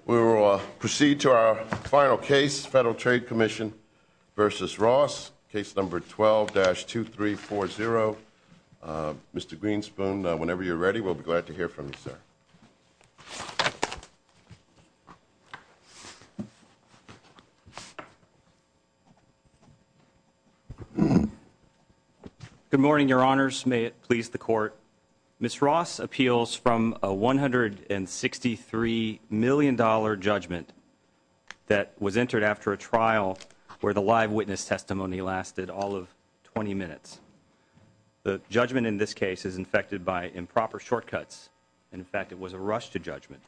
12-2340 Court, Ms. Ross appeals from a $163 million judgment that was entered after a trial where the live witness testimony lasted all of 20 minutes. The judgment in this case is infected by improper shortcuts. In fact, it was a rush to judgment.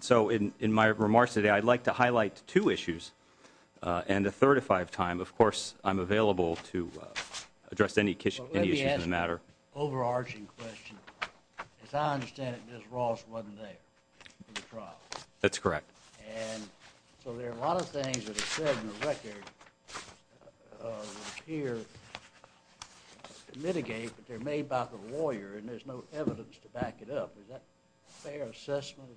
So in my remarks today, I'd like to highlight two issues and a third, if I have time. Of course, I'm available to address any issues in the matter. The overarching question, as I understand it, Ms. Ross wasn't there for the trial. That's correct. And so there are a lot of things that are said in the record here to mitigate, but they're made by the lawyer, and there's no evidence to back it up. Is that a fair assessment?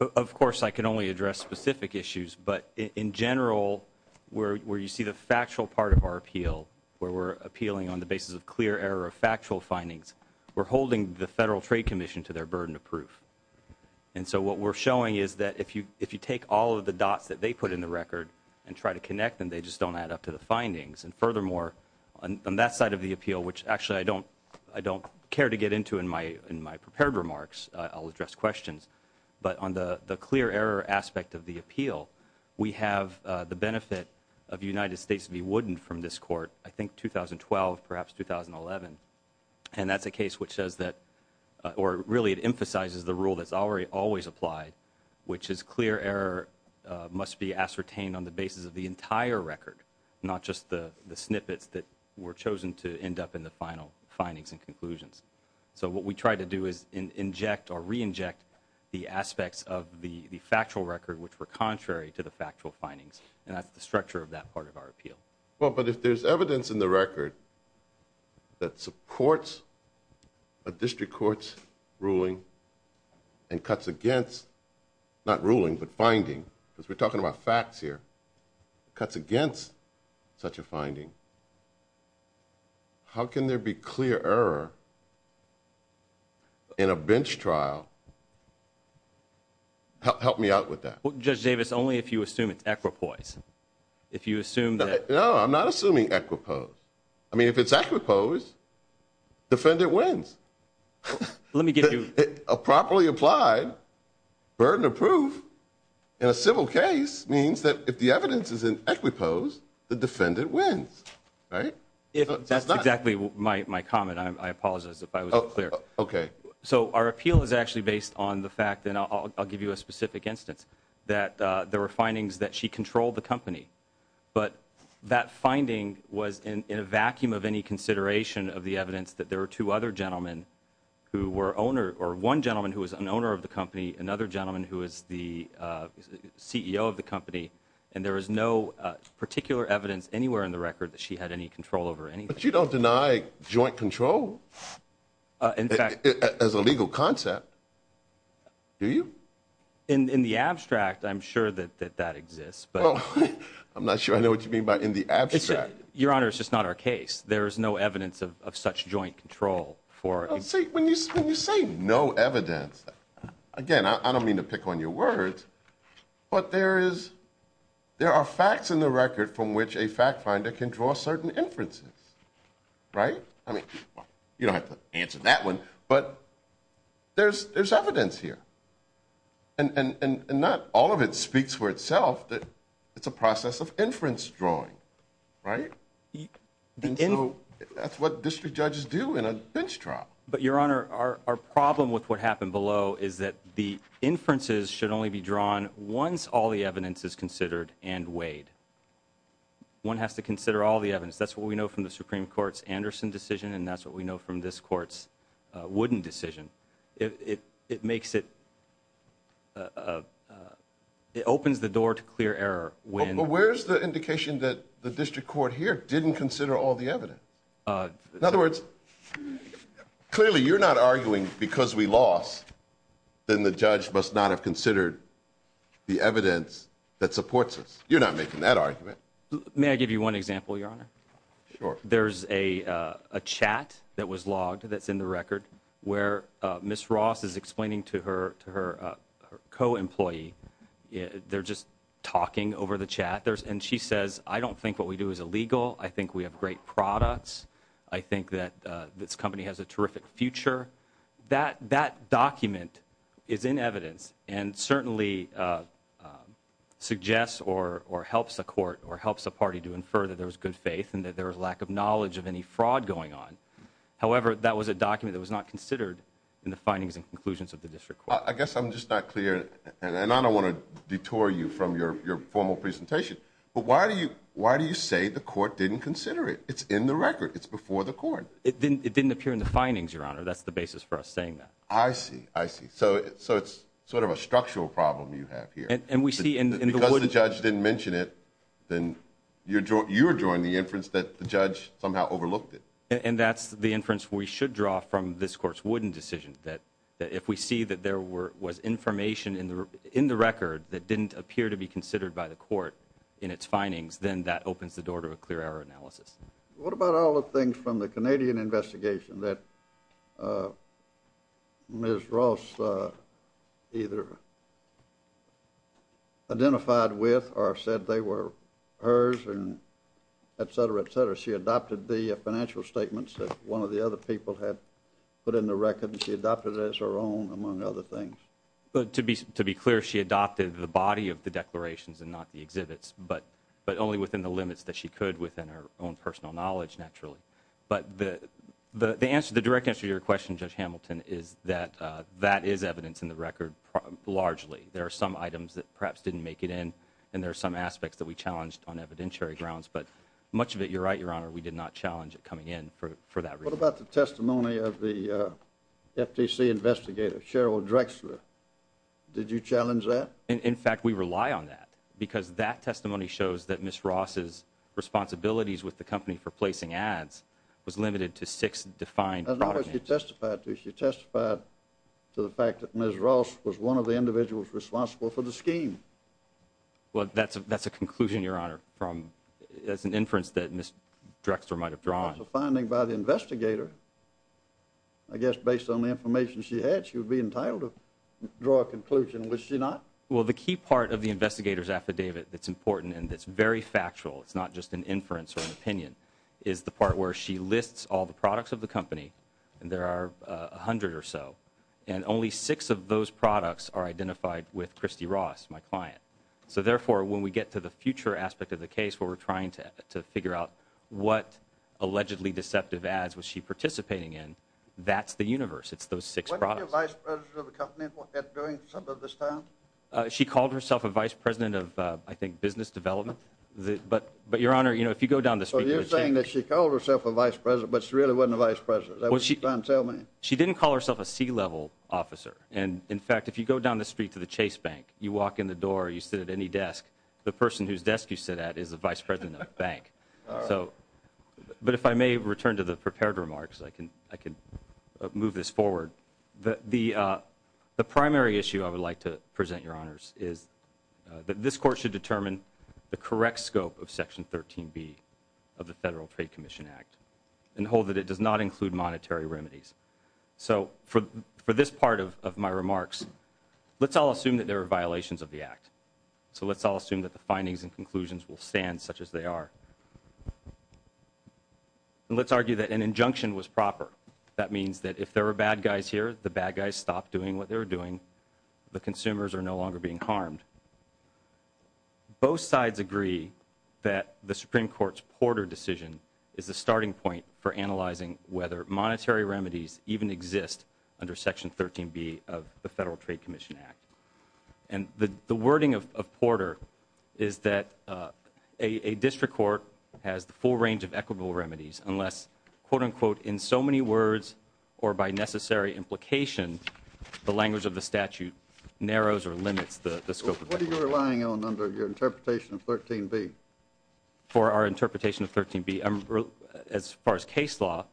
Of course, I can only address specific issues. But in general, where you see the factual part of our appeal, where we're appealing on the basis of clear error of factual findings, we're holding the Federal Trade Commission to their burden of proof. And so what we're showing is that if you take all of the dots that they put in the record and try to connect them, they just don't add up to the findings. And furthermore, on that side of the appeal, which actually I don't care to get into in my prepared remarks, I'll address questions, but on the clear error aspect of the appeal, we have the benefit of the United States to be woodened from this court, I think 2012, perhaps 2011. And that's a case which says that, or really it emphasizes the rule that's always applied, which is clear error must be ascertained on the basis of the entire record, not just the snippets that were chosen to end up in the final findings and conclusions. So what we try to do is inject or re-inject the aspects of the factual record which were in the structure of that part of our appeal. Well, but if there's evidence in the record that supports a district court's ruling and cuts against, not ruling, but finding, because we're talking about facts here, cuts against such a finding, how can there be clear error in a bench trial? Help me out with that. Judge Davis, only if you assume it's equiposed. If you assume that... No, I'm not assuming equiposed. I mean, if it's equiposed, defendant wins. Let me give you... Properly applied, burden of proof in a civil case means that if the evidence is in equiposed, the defendant wins, right? If that's exactly my comment, I apologize if I was unclear. Okay. So our appeal is actually based on the fact, and I'll give you a specific instance, that there were findings that she controlled the company, but that finding was in a vacuum of any consideration of the evidence that there were two other gentlemen who were owner, or one gentleman who was an owner of the company, another gentleman who was the CEO of the company, and there was no particular evidence anywhere in the record that she had any control over anything. But you don't deny joint control? In fact... As a legal concept, do you? In the abstract, I'm sure that that exists, but... Well, I'm not sure I know what you mean by in the abstract. Your Honor, it's just not our case. There is no evidence of such joint control for... When you say no evidence, again, I don't mean to pick on your words, but there are facts in the record from which a fact finder can draw certain inferences, right? I mean, you don't have to answer that one, but there's evidence here. And not all of it speaks for itself, that it's a process of inference drawing, right? And so, that's what district judges do in a bench trial. But, Your Honor, our problem with what happened below is that the inferences should only be drawn once all the evidence is considered and weighed. One has to consider all the evidence. That's what we know from the Supreme Court's Anderson decision, and that's what we know from this court's Wooden decision. It makes it... It opens the door to clear error when... But where's the indication that the district court here didn't consider all the evidence? In other words, clearly, you're not arguing because we lost, then the judge must not have considered the evidence that supports us. You're not making that argument. May I give you one example, Your Honor? Sure. There's a chat that was logged that's in the record where Ms. Ross is explaining to her co-employee, they're just talking over the chat, and she says, I don't think what we do is illegal, I think we have great products, I think that this company has a terrific future. That document is in evidence and certainly suggests or helps a court or helps a party to infer that there was good faith and that there was lack of knowledge of any fraud going on. However, that was a document that was not considered in the findings and conclusions of the district court. I guess I'm just not clear, and I don't want to detour you from your formal presentation, but why do you say the court didn't consider it? It's in the record. It's before the court. It didn't appear in the findings, Your Honor. That's the basis for us saying that. I see. I see. So it's sort of a structural problem you have here. And we see in the wooden... Because the judge didn't mention it, then you're drawing the inference that the judge somehow overlooked it. And that's the inference we should draw from this court's wooden decision, that if we see that there was information in the record that didn't appear to be considered by the court in its findings, then that opens the door to a clear error analysis. What about all the things from the Canadian investigation that Ms. Ross either identified with or said they were hers, et cetera, et cetera? She adopted the financial statements that one of the other people had put in the record, and she adopted it as her own, among other things? To be clear, she adopted the body of the declarations and not the exhibits, but only within the knowledge, naturally. But the direct answer to your question, Judge Hamilton, is that that is evidence in the record, largely. There are some items that perhaps didn't make it in, and there are some aspects that we challenged on evidentiary grounds. But much of it, you're right, Your Honor, we did not challenge it coming in for that reason. What about the testimony of the FTC investigator, Cheryl Drexler? Did you challenge that? In fact, we rely on that, because that testimony shows that Ms. Ross's responsibilities with the company for placing ads was limited to six defined programs. That's not what she testified to. She testified to the fact that Ms. Ross was one of the individuals responsible for the scheme. Well, that's a conclusion, Your Honor, as an inference that Ms. Drexler might have drawn. That's a finding by the investigator. I guess based on the information she had, she would be entitled to draw a conclusion, which she not. Well, the key part of the investigator's affidavit that's important and that's very factual, it's not just an inference or an opinion, is the part where she lists all the products of the company, and there are a hundred or so, and only six of those products are identified with Christy Ross, my client. So therefore, when we get to the future aspect of the case, where we're trying to figure out what allegedly deceptive ads was she participating in, that's the universe. It's those six products. What was your vice president of the company doing for some of this time? She called herself a vice president of, I think, business development. But Your Honor, you know, if you go down the street to the Chase Bank... So you're saying that she called herself a vice president, but she really wasn't a vice president. Is that what you're trying to tell me? She didn't call herself a C-level officer. And in fact, if you go down the street to the Chase Bank, you walk in the door, you sit at any desk, the person whose desk you sit at is the vice president of the bank. But if I may return to the prepared remarks, I can move this forward. The primary issue I would like to present, Your Honors, is that this court should determine the correct scope of Section 13B of the Federal Trade Commission Act and hold that it does not include monetary remedies. So for this part of my remarks, let's all assume that there are violations of the act. So let's all assume that the findings and conclusions will stand such as they are. Let's argue that an injunction was proper. That means that if there are bad guys here, the bad guys stop doing what they're doing. The consumers are no longer being harmed. Both sides agree that the Supreme Court's Porter decision is a starting point for analyzing whether monetary remedies even exist under Section 13B of the Federal Trade Commission Act. And the wording of Porter is that a district court has the full range of equitable remedies unless, quote-unquote, in so many words or by necessary implication, the language of the statute narrows or limits the scope of the remedy. What are you relying on under your interpretation of 13B? For our interpretation of 13B, as far as case law,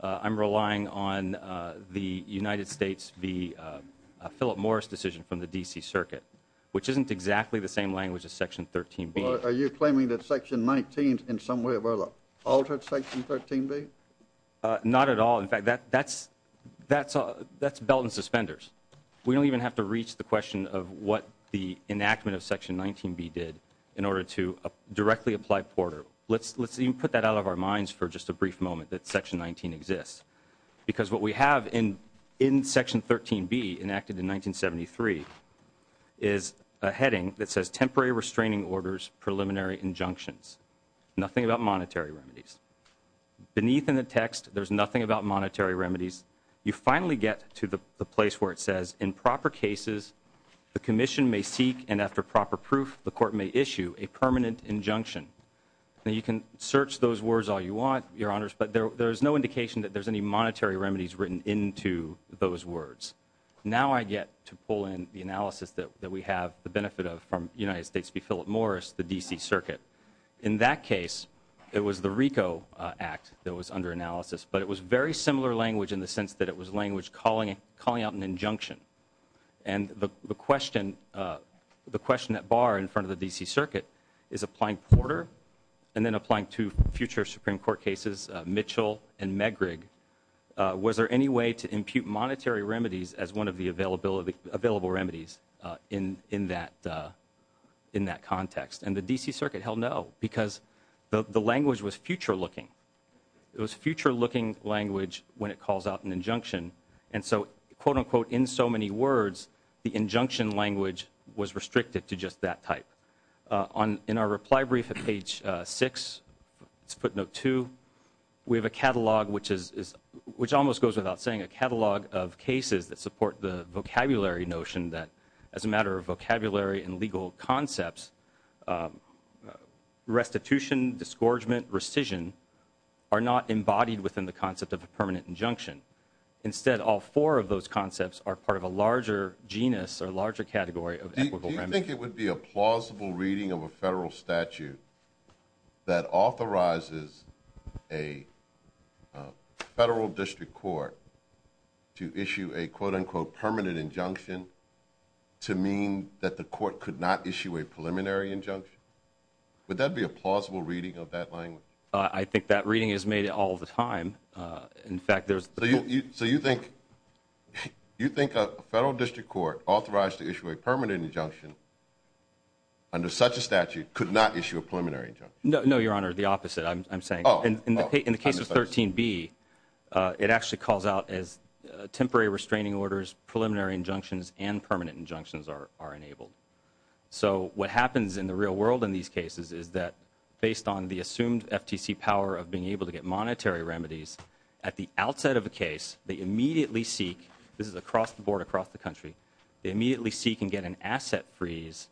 I'm relying on the United States v. Philip Morris decision from the D.C. Circuit, which isn't exactly the same language as Section 13B. Are you claiming that Section 19 in some way or other altered Section 13B? Not at all. In fact, that's belt and suspenders. We don't even have to reach the question of what the enactment of Section 19B did in order to directly apply Porter. Let's even put that out of our minds for just a brief moment, that Section 19 exists. Because what we have in Section 13B, enacted in 1973, is a heading that says temporary restraining orders, preliminary injunctions. Nothing about monetary remedies. Beneath in the text, there's nothing about monetary remedies. You finally get to the place where it says, in proper cases, the commission may seek and after proper proof, the court may issue a permanent injunction. You can search those words all you want, Your Honors, but there's no indication that there's any monetary remedies written into those words. Now I get to pull in the analysis that we have the benefit of from United States v. Philip Morris, the D.C. Circuit. In that case, it was the RICO Act that was under analysis, but it was very similar language in the sense that it was language calling out an injunction. And the question at bar in front of the D.C. Circuit is applying Porter and then applying two future Supreme Court cases, Mitchell and Megrig, was there any way to impute monetary remedies as one of the available remedies in that context? And the D.C. Circuit held no, because the language was future looking. It was future looking language when it calls out an injunction. And so, quote unquote, in so many words, the injunction language was restricted to just that type. In our reply brief at page 6, footnote 2, we have a catalog which almost goes without saying a catalog of cases that support the vocabulary notion that as a matter of vocabulary and legal concepts, restitution, disgorgement, rescission are not embodied within the concept of a permanent injunction. Instead, all four of those concepts are part of a larger genus or larger category of equitable remedies. So you think it would be a plausible reading of a federal statute that authorizes a federal district court to issue a, quote unquote, permanent injunction to mean that the court could not issue a preliminary injunction? Would that be a plausible reading of that language? I think that reading is made all the time. In fact, there's... You think a federal district court authorized to issue a permanent injunction under such a statute could not issue a preliminary injunction? No, Your Honor. The opposite, I'm saying. In the case of 13B, it actually calls out as temporary restraining orders, preliminary injunctions and permanent injunctions are enabled. So what happens in the real world in these cases is that based on the assumed FTC power of being able to get monetary remedies, at the outset of a case, they immediately seek, this is across the board, across the country, they immediately seek and get an asset freeze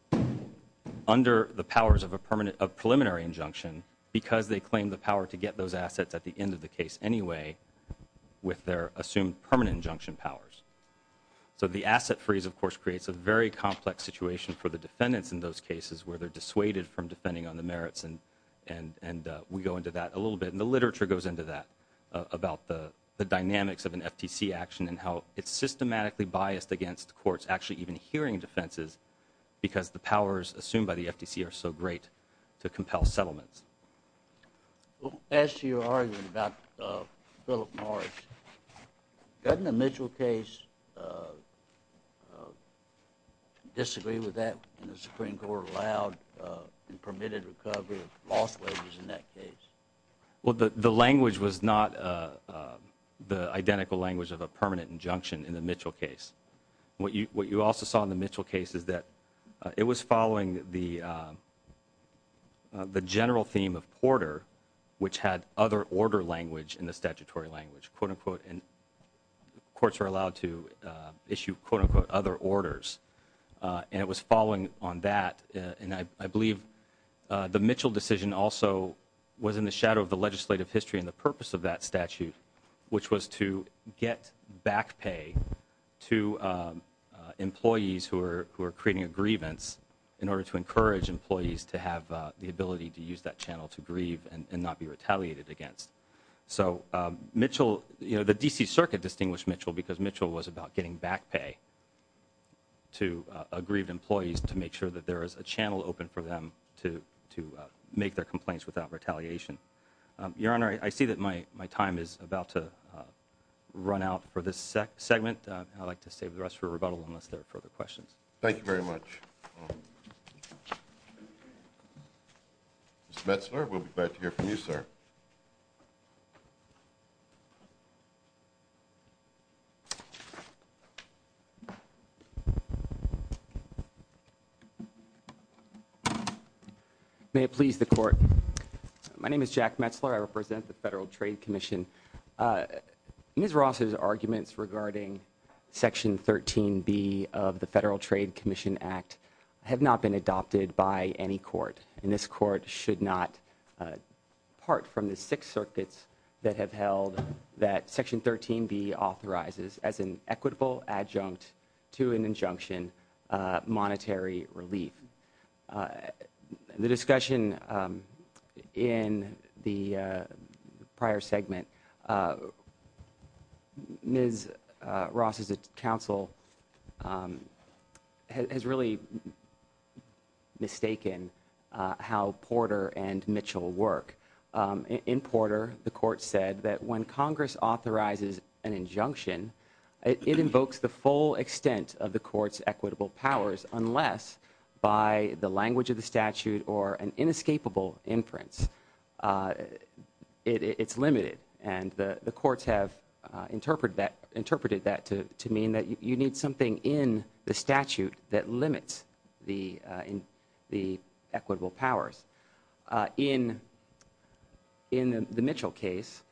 under the powers of a preliminary injunction because they claim the power to get those assets at the end of the case anyway with their assumed permanent injunction powers. So the asset freeze, of course, creates a very complex situation for the defendants in those cases where they're dissuaded from defending on the merits and we go into that a little bit and the literature goes into that about the dynamics of an FTC action and how it's systematically biased against courts actually even hearing defenses because the powers assumed by the FTC are so great to compel settlements. Well, as to your argument about Philip Morris, doesn't the Mitchell case disagree with that the Supreme Court allowed and permitted recovery of lost wages in that case? Well, the language was not the identical language of a permanent injunction in the Mitchell case. What you also saw in the Mitchell case is that it was following the general theme of Porter which had other order language in the statutory language, quote, unquote, and courts are allowed to issue, quote, unquote, other orders and it was following on that and I believe the Mitchell decision also was in the shadow of the legislative history and the purpose of that statute which was to get back pay to employees who are creating a grievance in order to encourage employees to have the ability to use that channel to grieve and not be retaliated against. So the D.C. Circuit distinguished Mitchell because Mitchell was about getting back pay to aggrieved employees to make sure that there is a channel open for them to make their complaints without retaliation. Your Honor, I see that my time is about to run out for this segment and I'd like to save the rest for rebuttal unless there are further questions. Thank you very much. Mr. Metzler, we'll be glad to hear from you, sir. Thank you. May it please the Court, my name is Jack Metzler, I represent the Federal Trade Commission. Ms. Ross' arguments regarding Section 13B of the Federal Trade Commission Act have not been adopted by any court and this court should not part from the six circuits that have held that Section 13B authorizes as an equitable adjunct to an injunction monetary relief. The discussion in the prior segment, Ms. Ross' counsel has really mistaken how Porter and Mitchell work. In Porter, the court said that when Congress authorizes an injunction, it invokes the full by the language of the statute or an inescapable inference. It's limited and the courts have interpreted that to mean that you need something in the statute that limits the equitable powers. In the Mitchell case,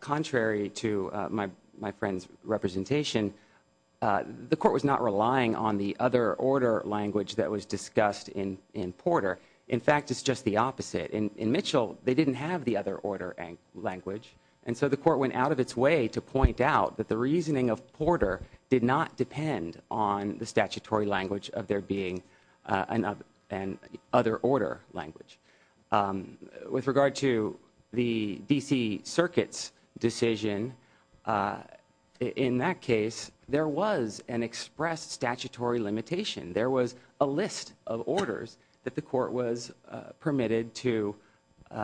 contrary to my friend's representation, the court was not relying on the other order language that was discussed in Porter. In fact, it's just the opposite. In Mitchell, they didn't have the other order language and so the court went out of its way to point out that the reasoning of Porter did not depend on the statutory language of there being an other order language. With regard to the D.C. Circuit's decision, in that case, there was an expressed statutory limitation. There was a list of orders that the court was permitted to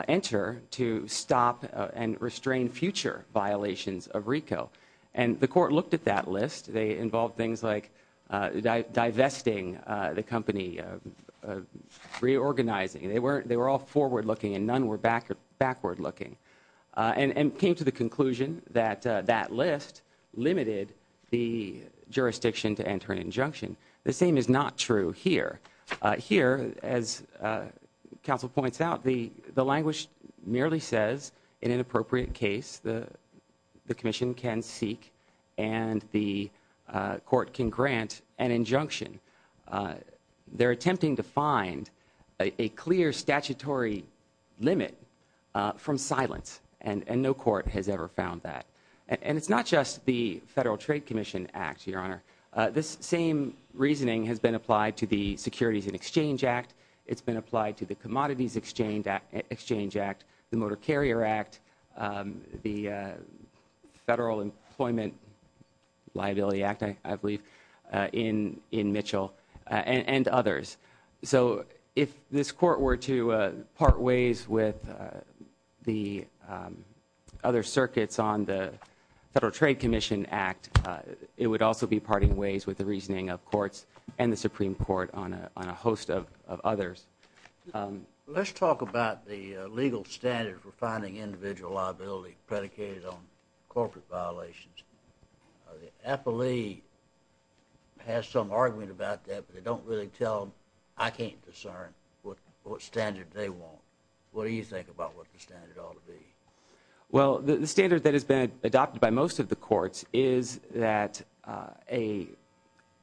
enter to stop and restrain future violations of RICO and the court looked at that list. They involved things like divesting the company, reorganizing. They were all forward-looking and none were backward-looking and came to the conclusion that that list limited the jurisdiction to enter an injunction. The same is not true here. Here, as counsel points out, the language merely says, in an appropriate case, the commission is attempting to find a clear statutory limit from silence and no court has ever found that. It's not just the Federal Trade Commission Act, Your Honor. This same reasoning has been applied to the Securities and Exchange Act. It's been applied to the Commodities Exchange Act, the Motor Carrier Act, the Federal Employment Liability Act, I believe, in Mitchell and others. So if this court were to part ways with the other circuits on the Federal Trade Commission Act, it would also be parting ways with the reasoning of courts and the Supreme Court on a host of others. Let's talk about the legal standard for finding individual liability predicated on corporate violations. The appellee has some argument about that, but they don't really tell, I can't discern what standard they want. What do you think about what the standard ought to be? Well, the standard that has been adopted by most of the courts is that an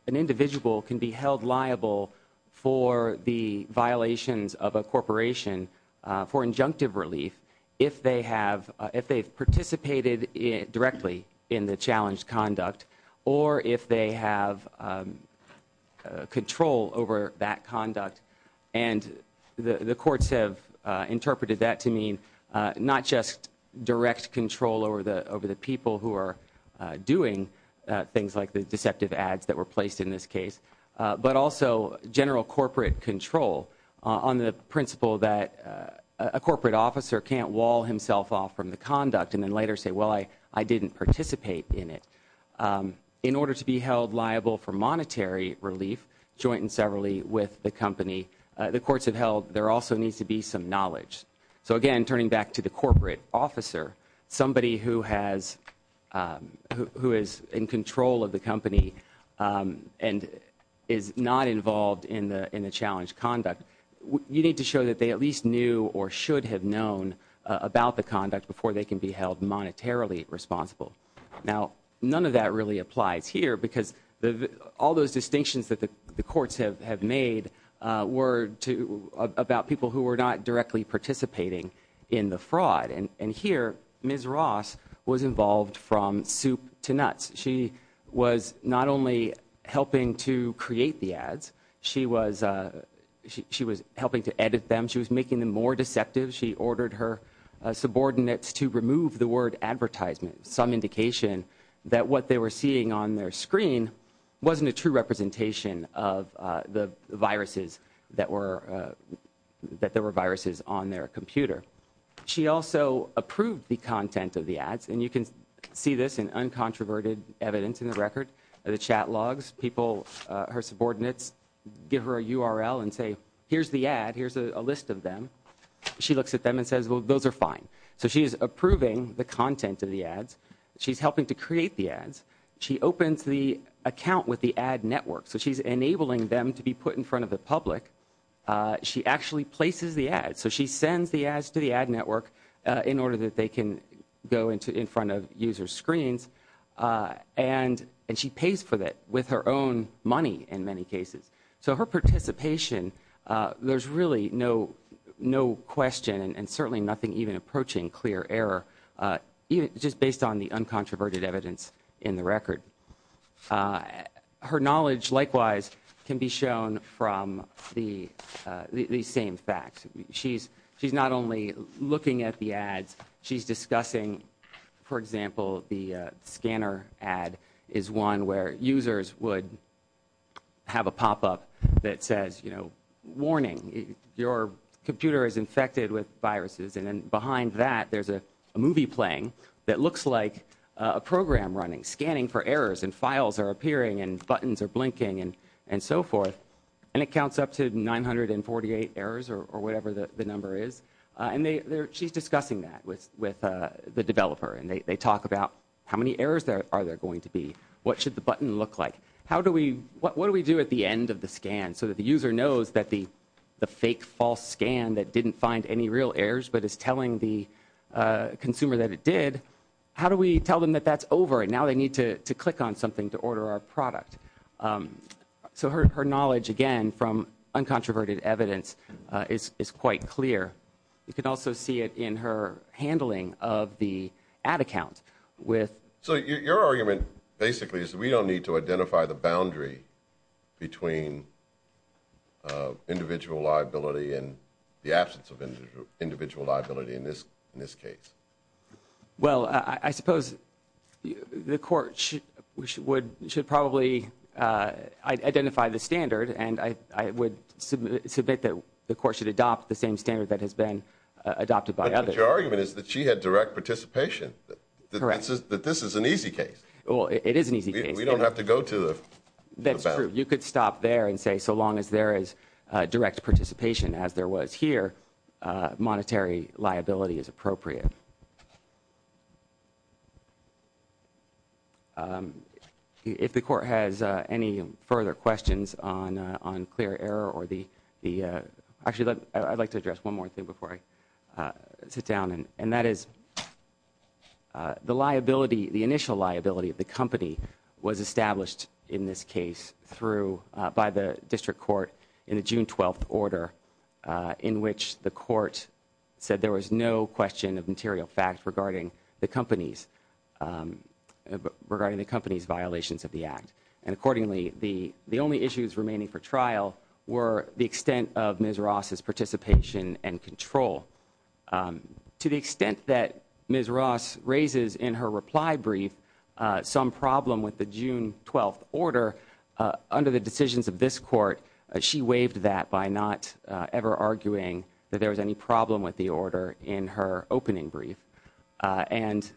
individual can be held liable for the violations of a corporation for injunctive relief if they have participated directly in the challenged conduct or if they have control over that conduct. And the courts have interpreted that to mean not just direct control over the people who are doing things like the deceptive ads that were placed in this case, but also general corporate control on the principle that a corporate officer can't wall himself off from the conduct and then later say, well, I didn't participate in it. In order to be held liable for monetary relief, joint and severally with the company, the courts have held there also needs to be some knowledge. So again, turning back to the corporate officer, somebody who has, who is in control of the company and is not involved in the challenged conduct, you need to show that they at least knew or should have known about the conduct before they can be held monetarily responsible. Now, none of that really applies here because all those distinctions that the courts have made were about people who were not directly participating in the fraud. And here, Ms. Ross was involved from soup to nuts. She was not only helping to create the ads, she was helping to edit them, she was making them more deceptive. She ordered her subordinates to remove the word advertisement. Some indication that what they were seeing on their screen wasn't a true representation of the viruses that were, that there were viruses on their computer. She also approved the content of the ads, and you can see this in uncontroverted evidence in the record, the chat logs, people, her subordinates give her a URL and say, here's the ad, here's a list of them. She looks at them and says, well, those are fine. So she is approving the content of the ads. She's helping to create the ads. She opens the account with the ad network, so she's enabling them to be put in front of the public. She actually places the ads. So she sends the ads to the ad network in order that they can go into, in front of user screens, and she pays for that with her own money in many cases. So her participation, there's really no question and certainly nothing even approaching clear error, just based on the uncontroverted evidence in the record. Her knowledge, likewise, can be shown from the same facts. She's not only looking at the ads, she's discussing, for example, the scanner ad is one where users would have a pop-up that says, you know, warning, your computer is infected with viruses, and then behind that there's a movie playing that looks like a program running, scanning for errors and files are appearing and buttons are blinking and so forth, and it counts up to 948 errors or whatever the number is. And she's discussing that with the developer, and they talk about how many errors are there going to be? What should the button look like? How do we, what do we do at the end of the scan so that the user knows that the fake false scan that didn't find any real errors but is telling the consumer that it did, how do we tell them that that's over and now they need to click on something to order our product? So her knowledge, again, from uncontroverted evidence is quite clear. You can also see it in her handling of the ad account with... So your argument, basically, is that we don't need to identify the boundary between individual liability and the absence of individual liability in this case? Well, I suppose the court should probably identify the standard, and I would submit that the court should adopt the same standard that has been adopted by others. But your argument is that she had direct participation. Correct. Your argument is that this is an easy case. Well, it is an easy case. We don't have to go to the boundary. That's true. You could stop there and say so long as there is direct participation, as there was here, monetary liability is appropriate. If the court has any further questions on clear error or the, actually, I'd like to address one more thing before I sit down. And that is the initial liability of the company was established in this case by the district court in the June 12th order, in which the court said there was no question of material fact regarding the company's violations of the act. And accordingly, the only issues remaining for trial were the extent of Ms. Ross' participation and control. To the extent that Ms. Ross raises in her reply brief some problem with the June 12th order, under the decisions of this court, she waived that by not ever arguing that there was any problem with the order in her opening brief. And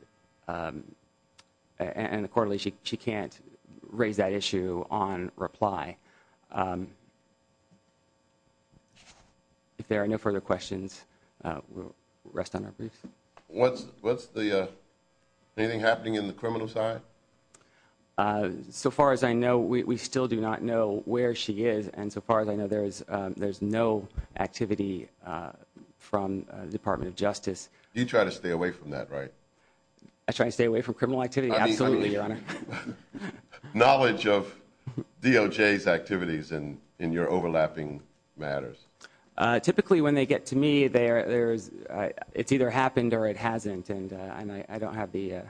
accordingly, she can't raise that issue on reply. If there are no further questions, we'll rest on our briefs. What's the, anything happening in the criminal side? So far as I know, we still do not know where she is. And so far as I know, there's no activity from the Department of Justice. You try to stay away from that, right? Absolutely, Your Honor. Knowledge of DOJ's activities in your overlapping matters. Typically, when they get to me, it's either happened or it hasn't, and I don't have the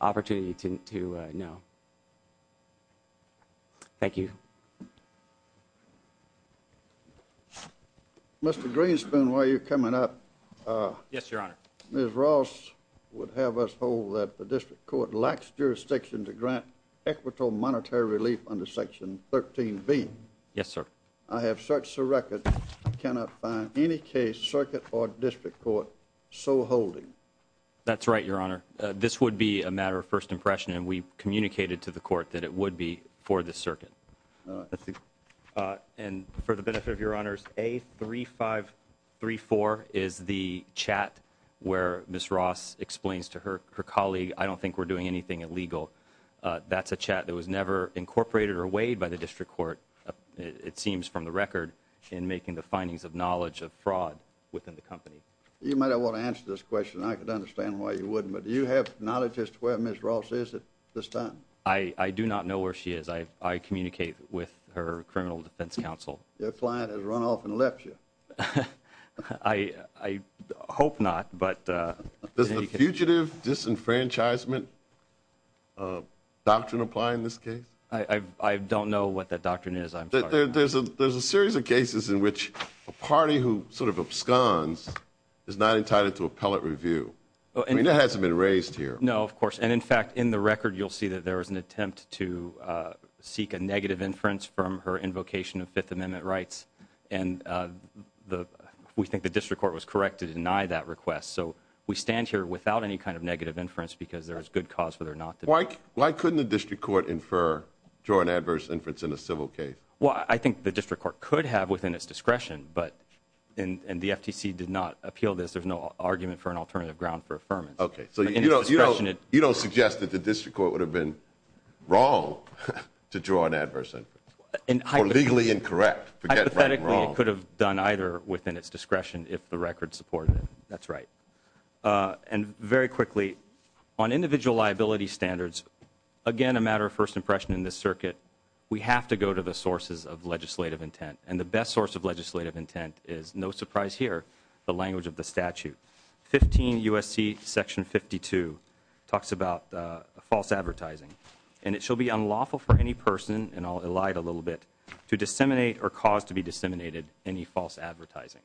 opportunity to know. Thank you. Mr. Greenspoon, while you're coming up, Ms. Ross would have us hold that the district court lacks jurisdiction to grant equitable monetary relief under Section 13B. Yes, sir. I have searched the record and cannot find any case circuit or district court so holding. That's right, Your Honor. This would be a matter of first impression, and we communicated to the court that it would be for the circuit. And for the benefit of Your Honors, A3534 is the chat where Ms. Ross explains to her colleague, I don't think we're doing anything illegal. That's a chat that was never incorporated or weighed by the district court, it seems from the record, in making the findings of knowledge of fraud within the company. You might not want to answer this question. I could understand why you wouldn't, but do you have knowledge as to where Ms. Ross is at this time? I do not know where she is. I communicate with her criminal defense counsel. Your client has run off and left you. I hope not. Does the fugitive disenfranchisement doctrine apply in this case? I don't know what that doctrine is. There's a series of cases in which a party who sort of absconds is not entitled to appellate review. I mean, that hasn't been raised here. No, of course. And in fact, in the record, you'll see that there was an attempt to seek a negative inference from her invocation of Fifth Amendment rights, and we think the district court was correct to deny that request. So we stand here without any kind of negative inference because there's good cause for there not to be. Why couldn't the district court infer, draw an adverse inference in a civil case? Well, I think the district court could have within its discretion, but, and the FTC did not appeal this. There's no argument for an alternative ground for affirmance. Okay. So you don't suggest that the district court would have been wrong to draw an adverse inference, or legally incorrect. Hypothetically, it could have done either within its discretion if the record supported it. That's right. And very quickly, on individual liability standards, again, a matter of first impression in this circuit, we have to go to the sources of legislative intent. And the best source of legislative intent is, no surprise here, the language of the statute. 15 U.S.C. section 52 talks about false advertising, and it shall be unlawful for any person, and cause to be disseminated any false advertising.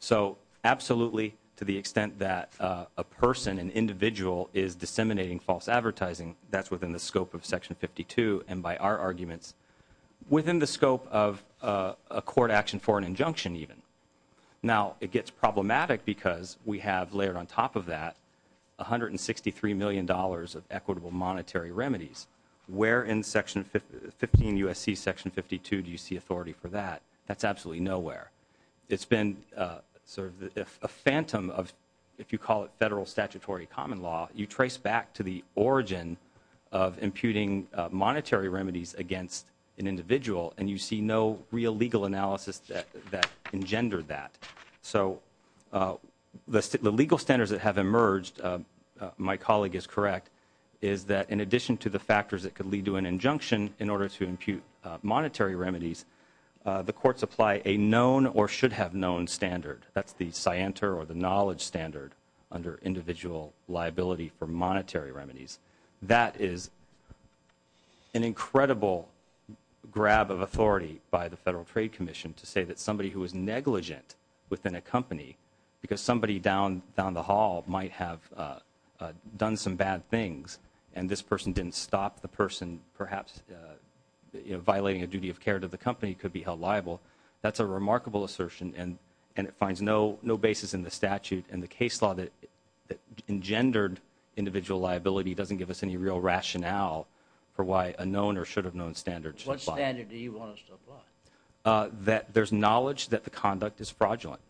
So absolutely, to the extent that a person, an individual, is disseminating false advertising, that's within the scope of section 52, and by our arguments, within the scope of a court action for an injunction even. Now, it gets problematic because we have layered on top of that $163 million of equitable monetary remedies. Where in section 15 U.S.C. section 52 do you see authority for that? That's absolutely nowhere. It's been sort of a phantom of, if you call it federal statutory common law, you trace back to the origin of imputing monetary remedies against an individual, and you see no real legal analysis that engendered that. So the legal standards that have emerged, my colleague is correct, is that in addition to the factors that could lead to an injunction in order to impute monetary remedies, the courts apply a known or should have known standard. That's the scienter or the knowledge standard under individual liability for monetary remedies. That is an incredible grab of authority by the Federal Trade Commission to say that somebody who is negligent within a company, because somebody down the hall might have done some bad things, and this person didn't stop the person, perhaps, you know, violating a duty of care to the company could be held liable. That's a remarkable assertion, and it finds no basis in the statute and the case law that engendered individual liability doesn't give us any real rationale for why a known or should have known standard should apply. What standard do you want us to apply? That there's knowledge that the conduct is fraudulent.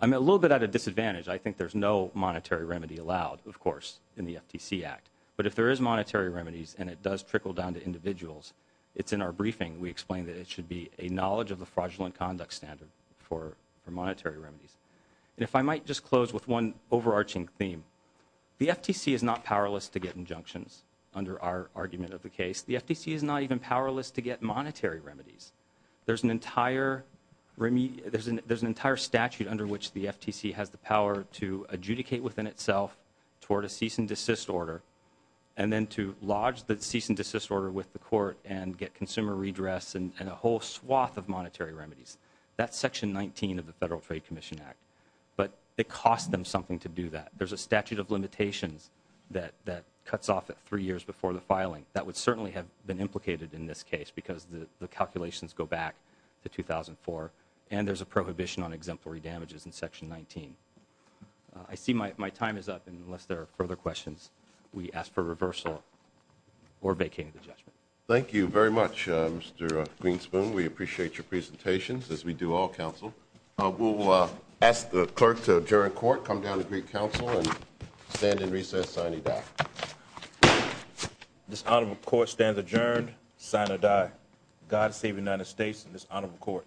I'm a little bit at a disadvantage. I think there's no monetary remedy allowed, of course, in the FTC Act, but if there is monetary remedies and it does trickle down to individuals, it's in our briefing. We explain that it should be a knowledge of the fraudulent conduct standard for monetary remedies. And if I might just close with one overarching theme, the FTC is not powerless to get injunctions under our argument of the case. The FTC is not even powerless to get monetary remedies. There's an entire statute under which the FTC has the power to adjudicate within itself toward a cease and desist order and then to lodge the cease and desist order with the court and get consumer redress and a whole swath of monetary remedies. That's Section 19 of the Federal Trade Commission Act. But it costs them something to do that. There's a statute of limitations that cuts off at three years before the filing. That would certainly have been implicated in this case, because the calculations go back to 2004. And there's a prohibition on exemplary damages in Section 19. I see my time is up, and unless there are further questions, we ask for reversal or vacating the judgment. Thank you very much, Mr. Greenspoon. We appreciate your presentations, as we do all counsel. We'll ask the clerk to adjourn court, come down to Greek Council, and stand in recess, signing doc. This honorable court stands adjourned, sign or die. God save the United States and this honorable court.